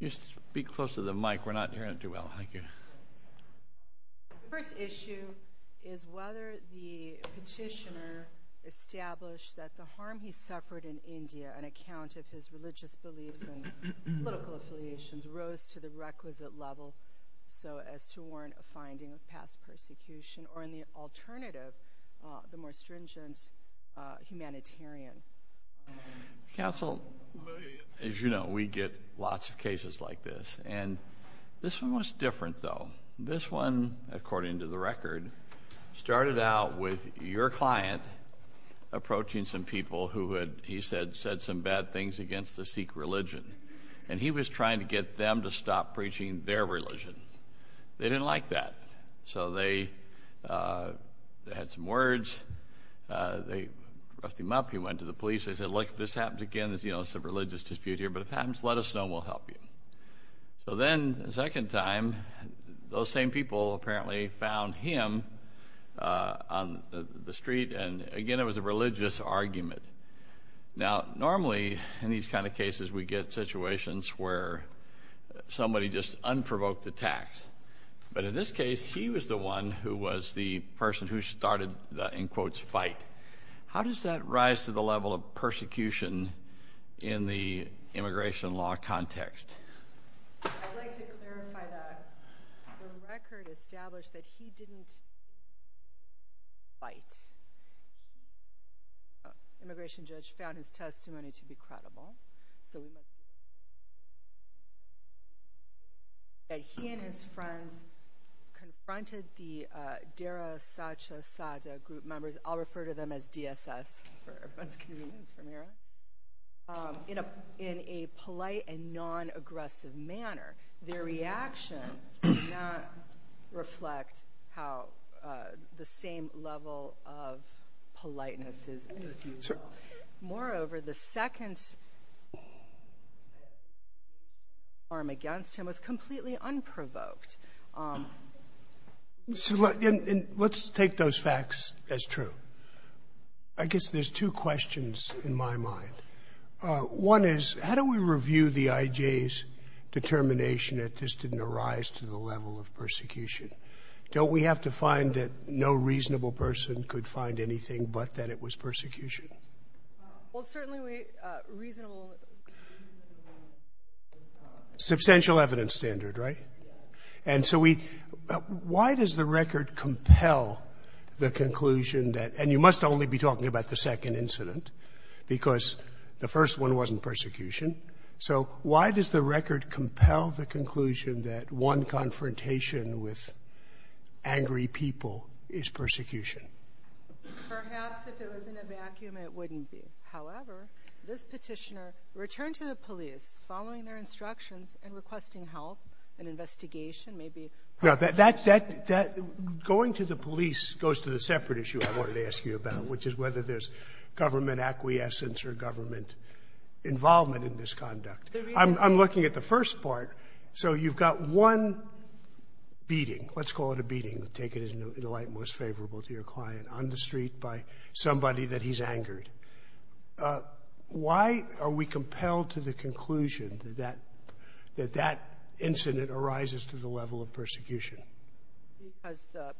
The first issue is whether the petitioner established that the harm he suffered in India, an account of his religious beliefs and political affiliations, rose to the requisite level so as to warrant a finding of past persecution, or in the alternative, the more stringent humanitarian harm. This one, according to the record, started out with your client approaching some people who had, he said, said some bad things against the Sikh religion. And he was trying to get them to stop preaching their religion. They didn't like that. So they had some words. They roughed him up. He went to the police. They said, look, if this happens again, it's a religious dispute here, but if it happens, let us know and we'll help you. So then the second time, those same people apparently found him on the street. And again, it was a religious argument. Now, normally, in these kind of cases, we get situations where somebody just unprovoked attacks. But in this case, he was the one who was the person who started the, in quotes, fight. How does that rise to the level of persecution in the immigration law context? I'd like to clarify that the record established that he didn't fight. The immigration judge found his testimony to be credible. So he and his friends confronted the Dara Sathya Sathya group members. I'll refer to them as DSS for convenience. In a polite and non-aggressive manner, their reaction did not reflect how the same level of politeness is. Moreover, the second arm against him was completely unprovoked. So let's take those facts as true. I guess there's two questions in my mind. One is, how do we review the IJ's determination that this didn't arise to the level of persecution? Don't we have to find that no reasonable person could find anything but that it was persecution? Well, certainly we reasonable ---- Substantial evidence standard, right? Yes. And so we — why does the record compel the conclusion that — and you must only be talking about the second incident, because the first one wasn't persecution. So why does the record compel the conclusion that one confrontation with angry people is persecution? Perhaps if it was in a vacuum, it wouldn't be. However, this Petitioner returned to the police following their instructions and requesting help, an investigation, maybe ---- No, that — that — that — going to the police goes to the separate issue I wanted to ask you about, which is whether there's government acquiescence or government involvement in this conduct. I'm looking at the first part. So you've got one beating, let's call it a beating, take it in the light most favorable to your client, on the street by somebody that he's angered. Why are we compelled to the conclusion that that incident arises to the level of persecution? Because the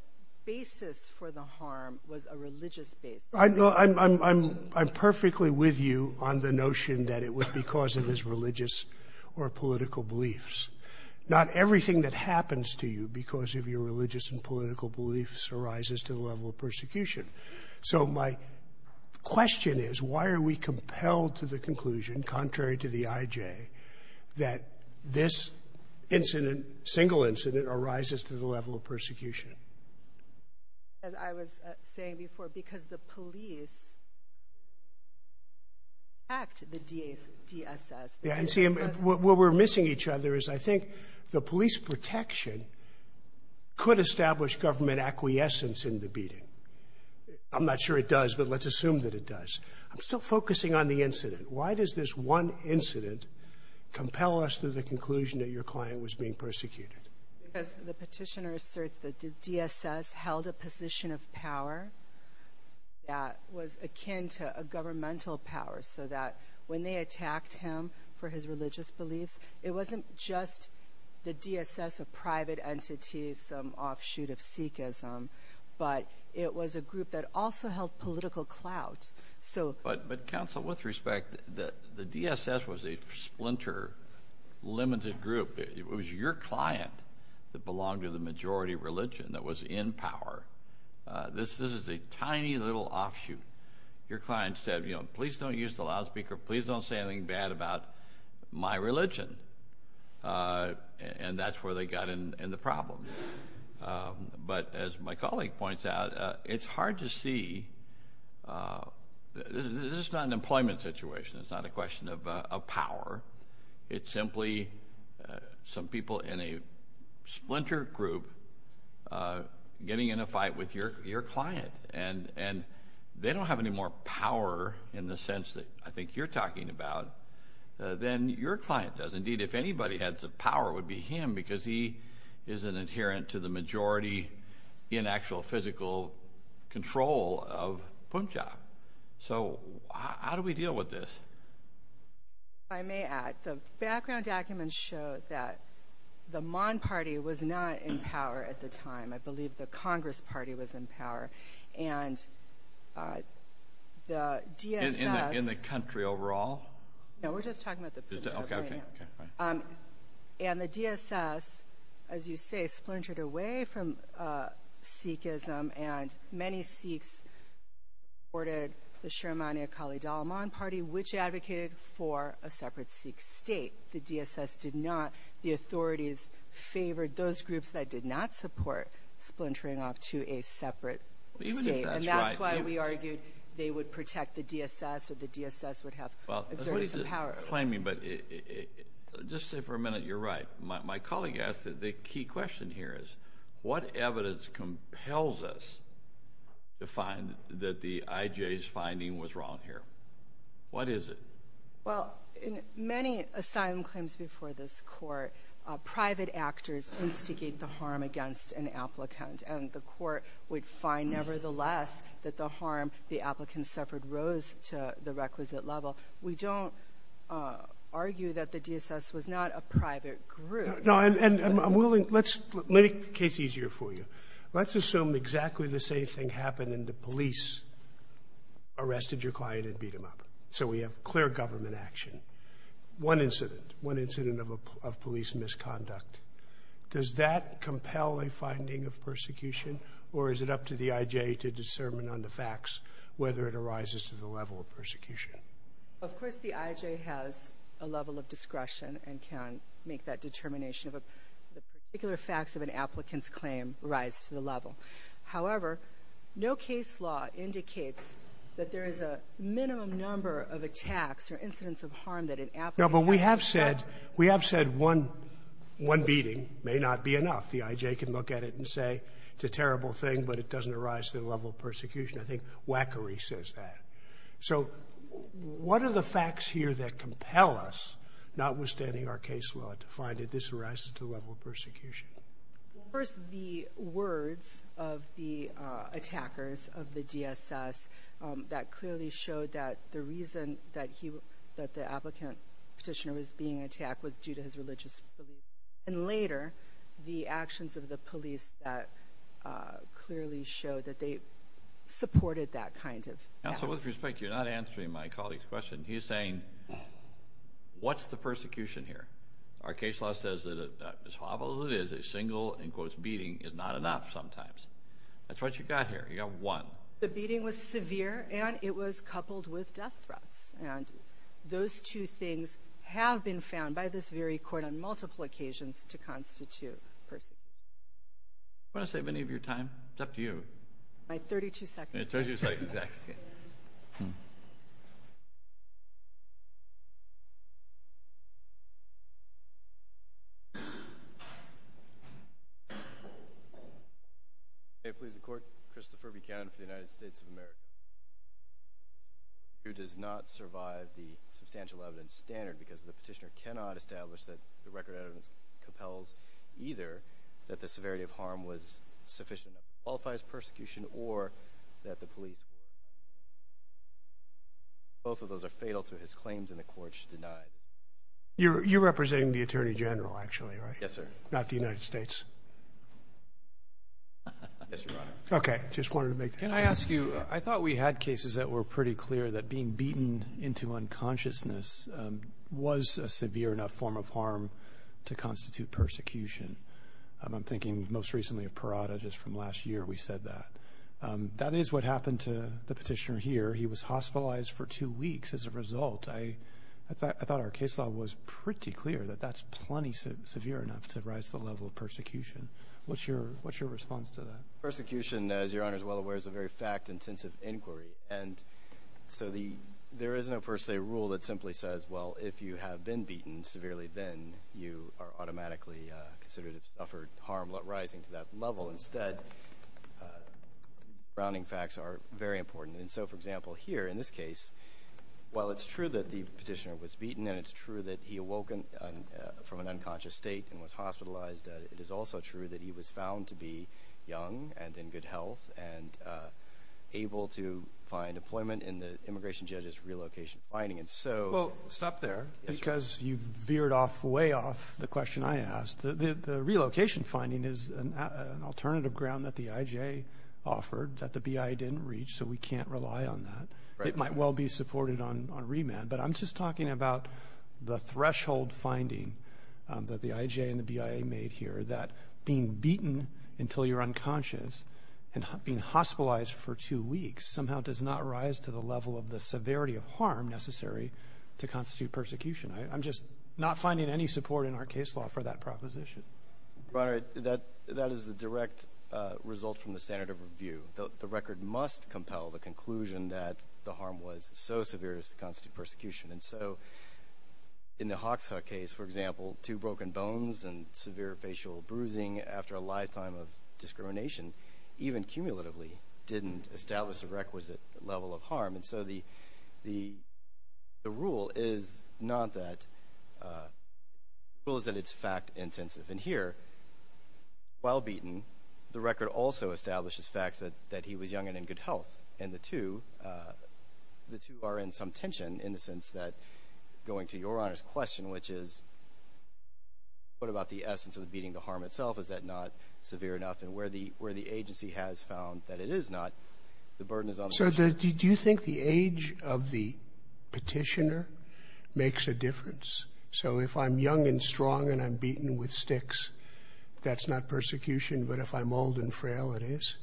basis for the harm was a religious basis. I'm — I'm — I'm perfectly with you on the notion that it was because of his religious or political beliefs. Not everything that happens to you because of your religious and political beliefs arises to the level of persecution. So my question is, why are we compelled to the conclusion, contrary to the IJ, that this incident, single incident, arises to the level of persecution? As I was saying before, because the police act the DSS. Yeah, and see, what we're missing each other is I think the police protection could establish government acquiescence in the beating. I'm not sure it does, but let's assume that it does. I'm still focusing on the incident. Why does this one incident compel us to the conclusion that your client was being persecuted? Because the petitioner asserts that the DSS held a position of power that was akin to a governmental power, so that when they attacked him for his religious beliefs, it wasn't just the DSS, a private entity, some offshoot of Sikhism, but it was a group that also held political clout. So — So with respect, the DSS was a splinter, limited group. It was your client that belonged to the majority religion that was in power. This is a tiny little offshoot. Your client said, you know, please don't use the loudspeaker. Please don't say anything bad about my religion. And that's where they got in the problem. But as my colleague points out, it's hard to see — this is not an employment situation. It's not a question of power. It's simply some people in a splinter group getting in a fight with your client. And they don't have any more power in the sense that I think you're talking about than your client does. Indeed, if anybody had some power, it would be him because he is an adherent to the majority in actual physical control of Punjab. So how do we deal with this? If I may add, the background documents show that the Mon Party was not in power at the time. I believe the Congress Party was in power. And the DSS — In the country overall? And the DSS, as you say, splintered away from Sikhism. And many Sikhs supported the Shirmani Akali Dalman Party, which advocated for a separate Sikh state. The DSS did not. The authorities favored those groups that did not support splintering off to a separate state. And that's why we argued they would protect the DSS or the DSS would have exerted some power. I'm not claiming, but just say for a minute you're right. My colleague asked, the key question here is, what evidence compels us to find that the IJ's finding was wrong here? What is it? Well, in many asylum claims before this Court, private actors instigate the harm against an applicant. And the Court would find, nevertheless, that the harm the applicant suffered rose to the requisite level. We don't argue that the DSS was not a private group. No. And I'm willing — let's make the case easier for you. Let's assume exactly the same thing happened and the police arrested your client and beat him up. So we have clear government action. One incident, one incident of police misconduct, does that compel a finding of persecution, or is it up to the IJ to discern on the facts whether it arises to the level of persecution? Of course, the IJ has a level of discretion and can make that determination of a particular facts of an applicant's claim rise to the level. However, no case law indicates that there is a minimum number of attacks or incidents of harm that an applicant has suffered. No, but we have said one beating may not be enough. The IJ can look at it and say it's a terrible thing, but it doesn't arise to the level of persecution. I think Wackery says that. So what are the facts here that compel us, notwithstanding our case law, to find that this arises to the level of persecution? Well, first, the words of the attackers of the DSS that clearly showed that the reason that he — that the applicant Petitioner was being attacked was due to his religious beliefs. And later, the actions of the police that clearly showed that they supported that kind of — Counsel, with respect, you're not answering my colleague's question. He's saying, what's the persecution here? Our case law says that as horrible as it is, a single, in quotes, beating is not enough sometimes. That's what you got here. You got one. The beating was severe, and it was coupled with death threats. And those two things have been found by this very court on multiple occasions to constitute persecution. Do you want to save any of your time? It's up to you. My 32 seconds. Your 32 seconds. Exactly. May it please the Court, Christopher Buchanan for the United States of America, who does not survive the substantial evidence standard because the Petitioner cannot establish that the record of evidence compels either that the severity of harm was sufficient to qualify as persecution or that the police — both of those are fatal to his claims, and the Court should deny. You're representing the Attorney General, actually, right? Yes, sir. Not the United States? Yes, Your Honor. Okay. Just wanted to make that clear. Can I ask you — I thought we had cases that were pretty clear that being beaten into unconsciousness was a severe enough form of harm to constitute persecution. I'm thinking most recently of Parada, just from last year we said that. That is what happened to the Petitioner here. He was hospitalized for two weeks as a result. I thought our case law was pretty clear that that's plenty severe enough to rise the level of persecution. What's your response to that? Persecution, as Your Honor is well aware, is a very fact-intensive inquiry. And so the — there is no per se rule that simply says, well, if you have been beaten severely, then you are automatically considered to have suffered harm rising to that level. Instead, grounding facts are very important. And so, for example, here in this case, while it's true that the Petitioner was beaten and it's true that he awoke from an unconscious state and was hospitalized, it is also true that he was found to be young and in good health and able to find employment in the immigration judge's relocation finding. And so — Well, stop there, because you veered off — way off the question I asked. The relocation finding is an alternative ground that the IJA offered that the BIA didn't reach, so we can't rely on that. It might well be supported on remand. But I'm just talking about the being beaten until you're unconscious and being hospitalized for two weeks somehow does not rise to the level of the severity of harm necessary to constitute persecution. I'm just not finding any support in our case law for that proposition. Your Honor, that is a direct result from the standard of review. The record must compel the conclusion that the harm was so severe as to constitute persecution. And so, in the after a lifetime of discrimination, even cumulatively, didn't establish a requisite level of harm. And so the rule is not that — the rule is that it's fact-intensive. And here, while beaten, the record also establishes facts that he was young and in good health. And the two are in some tension in the sense that — going to Your Honor's question, which is, what about the essence of the beating, the harm itself? Is that not severe enough? And where the agency has found that it is not, the burden is on — So do you think the age of the petitioner makes a difference? So if I'm young and strong and I'm beaten with sticks, that's not persecution, but if I'm old and frail, it is?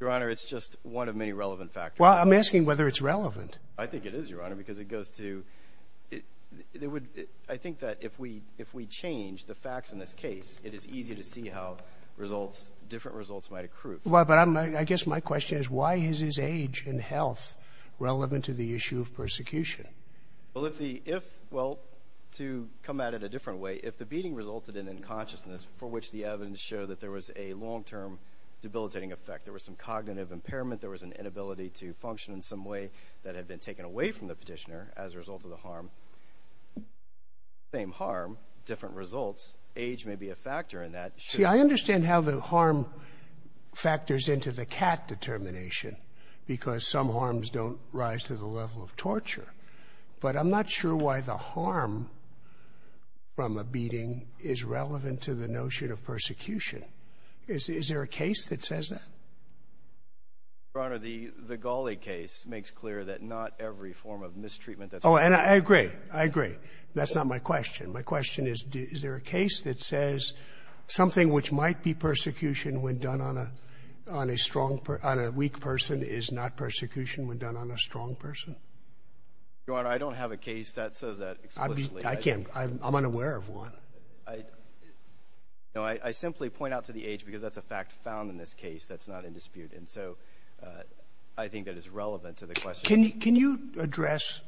Your Honor, it's just one of many relevant factors. Well, I'm asking whether it's relevant. I think it is, Your Honor, because it goes to — it would — I think that if we change the facts in this case, it is easy to see how results — different results might accrue. Well, but I'm — I guess my question is, why is his age and health relevant to the issue of persecution? Well, if the — if — well, to come at it a different way, if the beating resulted in unconsciousness, for which the evidence showed that there was a long-term debilitating effect, there was some cognitive impairment, there was an inability to function in some way that had been taken away from the petitioner as a result of the harm, same harm, different results. Age may be a factor in that. See, I understand how the harm factors into the cat determination, because some harms don't rise to the level of torture. But I'm not sure why the harm from a beating is relevant to the notion of persecution. Is there a case that says that? Your Honor, the Galli case makes clear that not every form of mistreatment that's used — Oh, and I agree. I agree. That's not my question. My question is, is there a case that says something which might be persecution when done on a — on a strong — on a weak person is not persecution when done on a strong person? Your Honor, I don't have a case that says that explicitly. I can't — I'm unaware of one. I — no, I simply point out to the age, because that's a fact found in this case that's not in dispute. And so I think that is relevant to the question. Can you address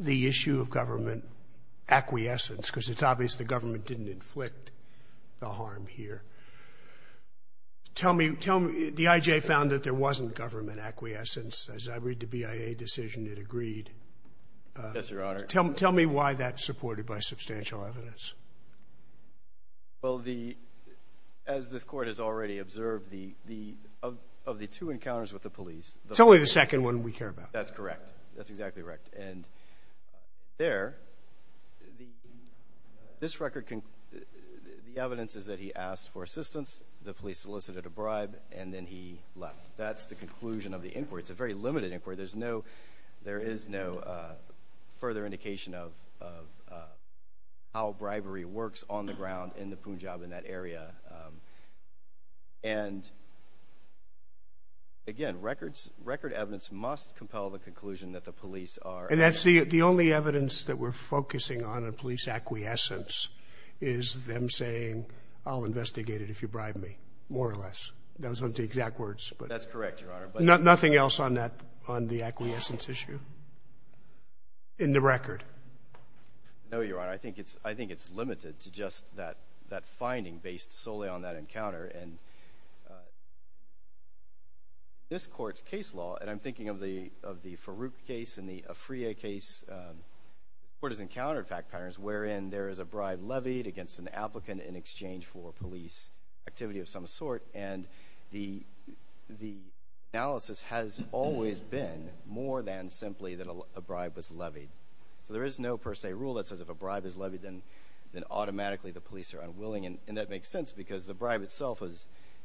the issue of government acquiescence? Because it's obvious the government didn't inflict the harm here. Tell me — tell me — the I.J. found that there wasn't government acquiescence. As I read the BIA decision, it agreed. Yes, Your Honor. Tell me why that's supported by substantial evidence. Well, the — as this Court has already observed, the — of the two encounters with the police — It's only the second one we care about. That's correct. That's exactly right. And there, the — this record — the evidence is that he asked for assistance, the police solicited a bribe, and then he left. That's the conclusion of the inquiry. It's a very limited inquiry. There's no — there is no further indication of how bribery works on the ground in the Punjab, in that area. And again, records — record evidence must compel the conclusion that the police are — And that's the only evidence that we're focusing on in police acquiescence is them saying, I'll investigate it if you bribe me, more or less. Those aren't the exact words, but — That's correct, Your Honor. Nothing else on that — on the acquiescence issue in the record? No, Your Honor. I think it's — I think it's limited to just that — that finding based solely on that encounter. And this Court's case law — and I'm thinking of the — of the Farouk case and the Afriye case. The Court has encountered fact patterns wherein there is a bribe levied against an applicant in exchange for police activity of some sort. And the analysis has always been more than simply that a bribe was levied. So there is no per se rule that says if a bribe is levied, then automatically the police are unwilling. And that makes sense because the bribe itself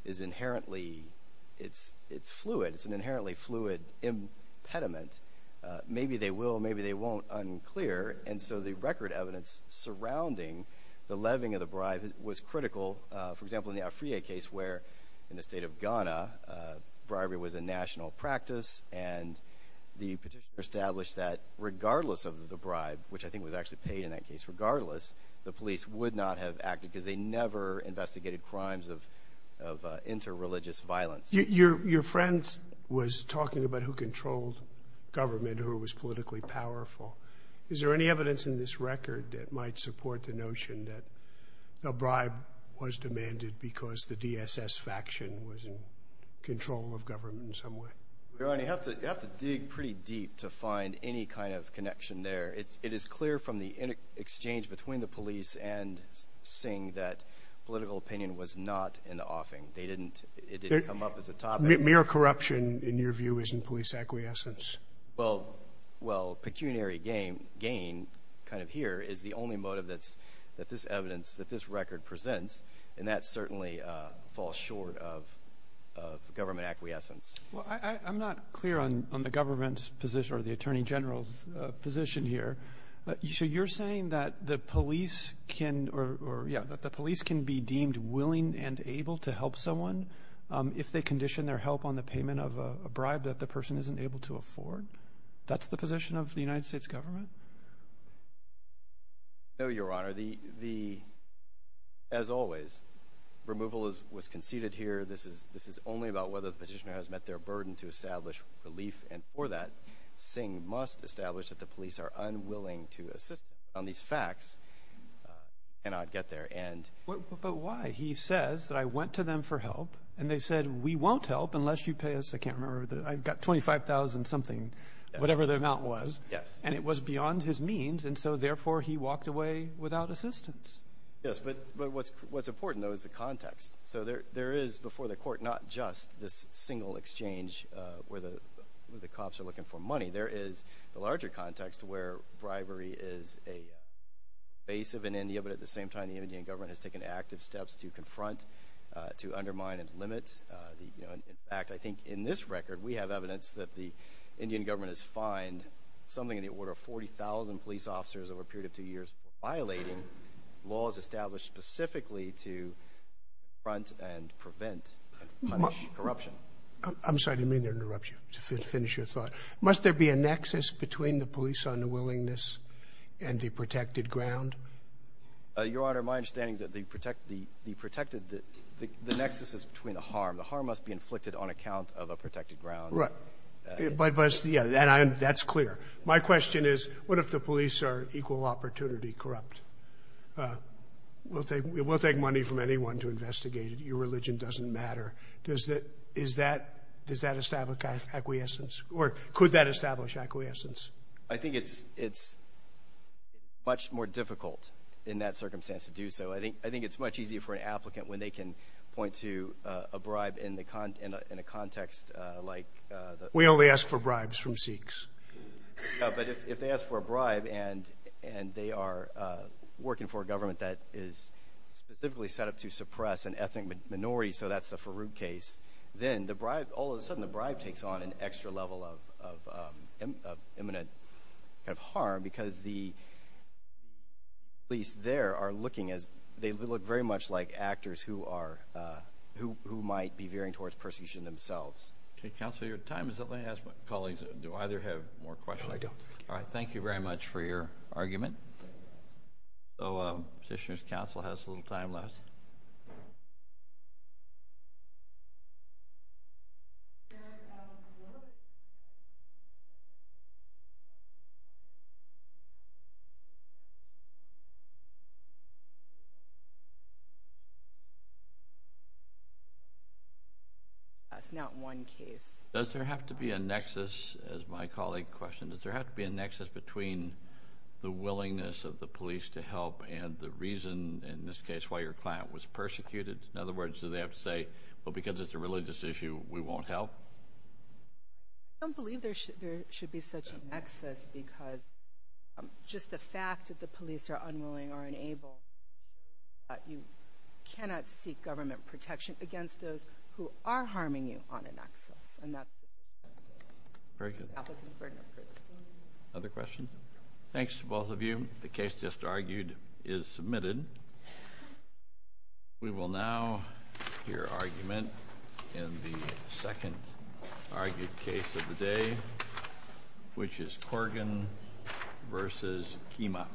is inherently — it's fluid. It's an inherently fluid impediment. Maybe they will, maybe they won't, unclear. And so the record evidence surrounding the levying of the bribe was critical. For example, in the Afriye case where in the state of Ghana bribery was a national practice and the petitioner established that regardless of the bribe, which I think was actually paid in that case regardless, the police would not have acted because they never investigated crimes of interreligious violence. Your friend was talking about who controlled government, who was politically powerful. Is there any evidence in this record that might support the notion that a bribe was demanded because the DSS faction was in control of government in some way? Your Honor, you have to dig pretty deep to find any kind of connection there. It is clear from the exchange between the police and Singh that political opinion was not an offing. They didn't — it didn't come up as a topic. Mere corruption, in your view, isn't police acquiescence? Well, pecuniary gain kind of here is the only motive that this evidence, that this record presents, and that certainly falls short of government acquiescence. Well, I'm not clear on the government's position or the Attorney General's position here. So you're saying that the police can be deemed willing and able to help someone if they condition their help on the payment of a bribe that the person isn't able to afford? That's the position of the United States government? No, Your Honor. The — as always, removal was conceded here. This is only about whether the petitioner has met their burden to establish relief. And for that, Singh must establish that the police are unwilling to assist on these facts and not get there. But why? He says that I went to them for help, and they said, we won't help unless you pay us — I can't remember, I've got $25,000-something, whatever the amount was. Yes. And it was beyond his means, and so therefore he walked away without assistance. Yes, but what's important, though, is the context. So there is, before the court, not just this single exchange where the cops are looking for money. There is the larger context where bribery is a base of in India, but at the same time the Indian government has taken active steps to confront, to undermine and limit the act. I think in this record we have evidence that the Indian government has fined something in the order of 40,000 police officers over a period of two years for violating laws established specifically to confront and prevent and punish corruption. I'm sorry, I didn't mean to interrupt you, to finish your thought. Must there be a nexus between the police unwillingness and the protected ground? Your Honor, my understanding is that the protected — the nexus is between the harm. The harm must be inflicted on account of a protected ground. Right. But, yeah, that's clear. My question is, what if the police are equal opportunity corrupt? We'll take money from anyone to investigate it. Your religion doesn't matter. Does that establish acquiescence, or could that establish acquiescence? I think it's much more difficult in that circumstance to do so. I think it's much easier for an applicant when they can point to a bribe in a context like — We only ask for bribes from Sikhs. But if they ask for a bribe and they are working for a government that is specifically set up to suppress an ethnic minority, so that's the Farood case, then all of a sudden the bribe takes on an extra level of imminent harm because the police there are looking as — they look very much like actors who are — who might be veering towards persecution themselves. Counsel, your time is up. Let me ask my colleagues, do either have more questions? No, I don't. All right. Thank you very much for your argument. So, petitioner's counsel has a little time left. That's not one case. Does there have to be a nexus, as my colleague questioned, does there have to be a nexus between the willingness of the police to help and the reason, in this case, why your client was persecuted? In other words, do they have to say, well, because it's a religious issue, we won't help? I don't believe there should be such a nexus because just the fact that the police are unwilling or unable, you cannot seek government protection against those who are harming you on a nexus. Very good. Other questions? Thanks to both of you. The case just argued is submitted. We will now hear argument in the second argued case of the day, which is Corgan v. Kima.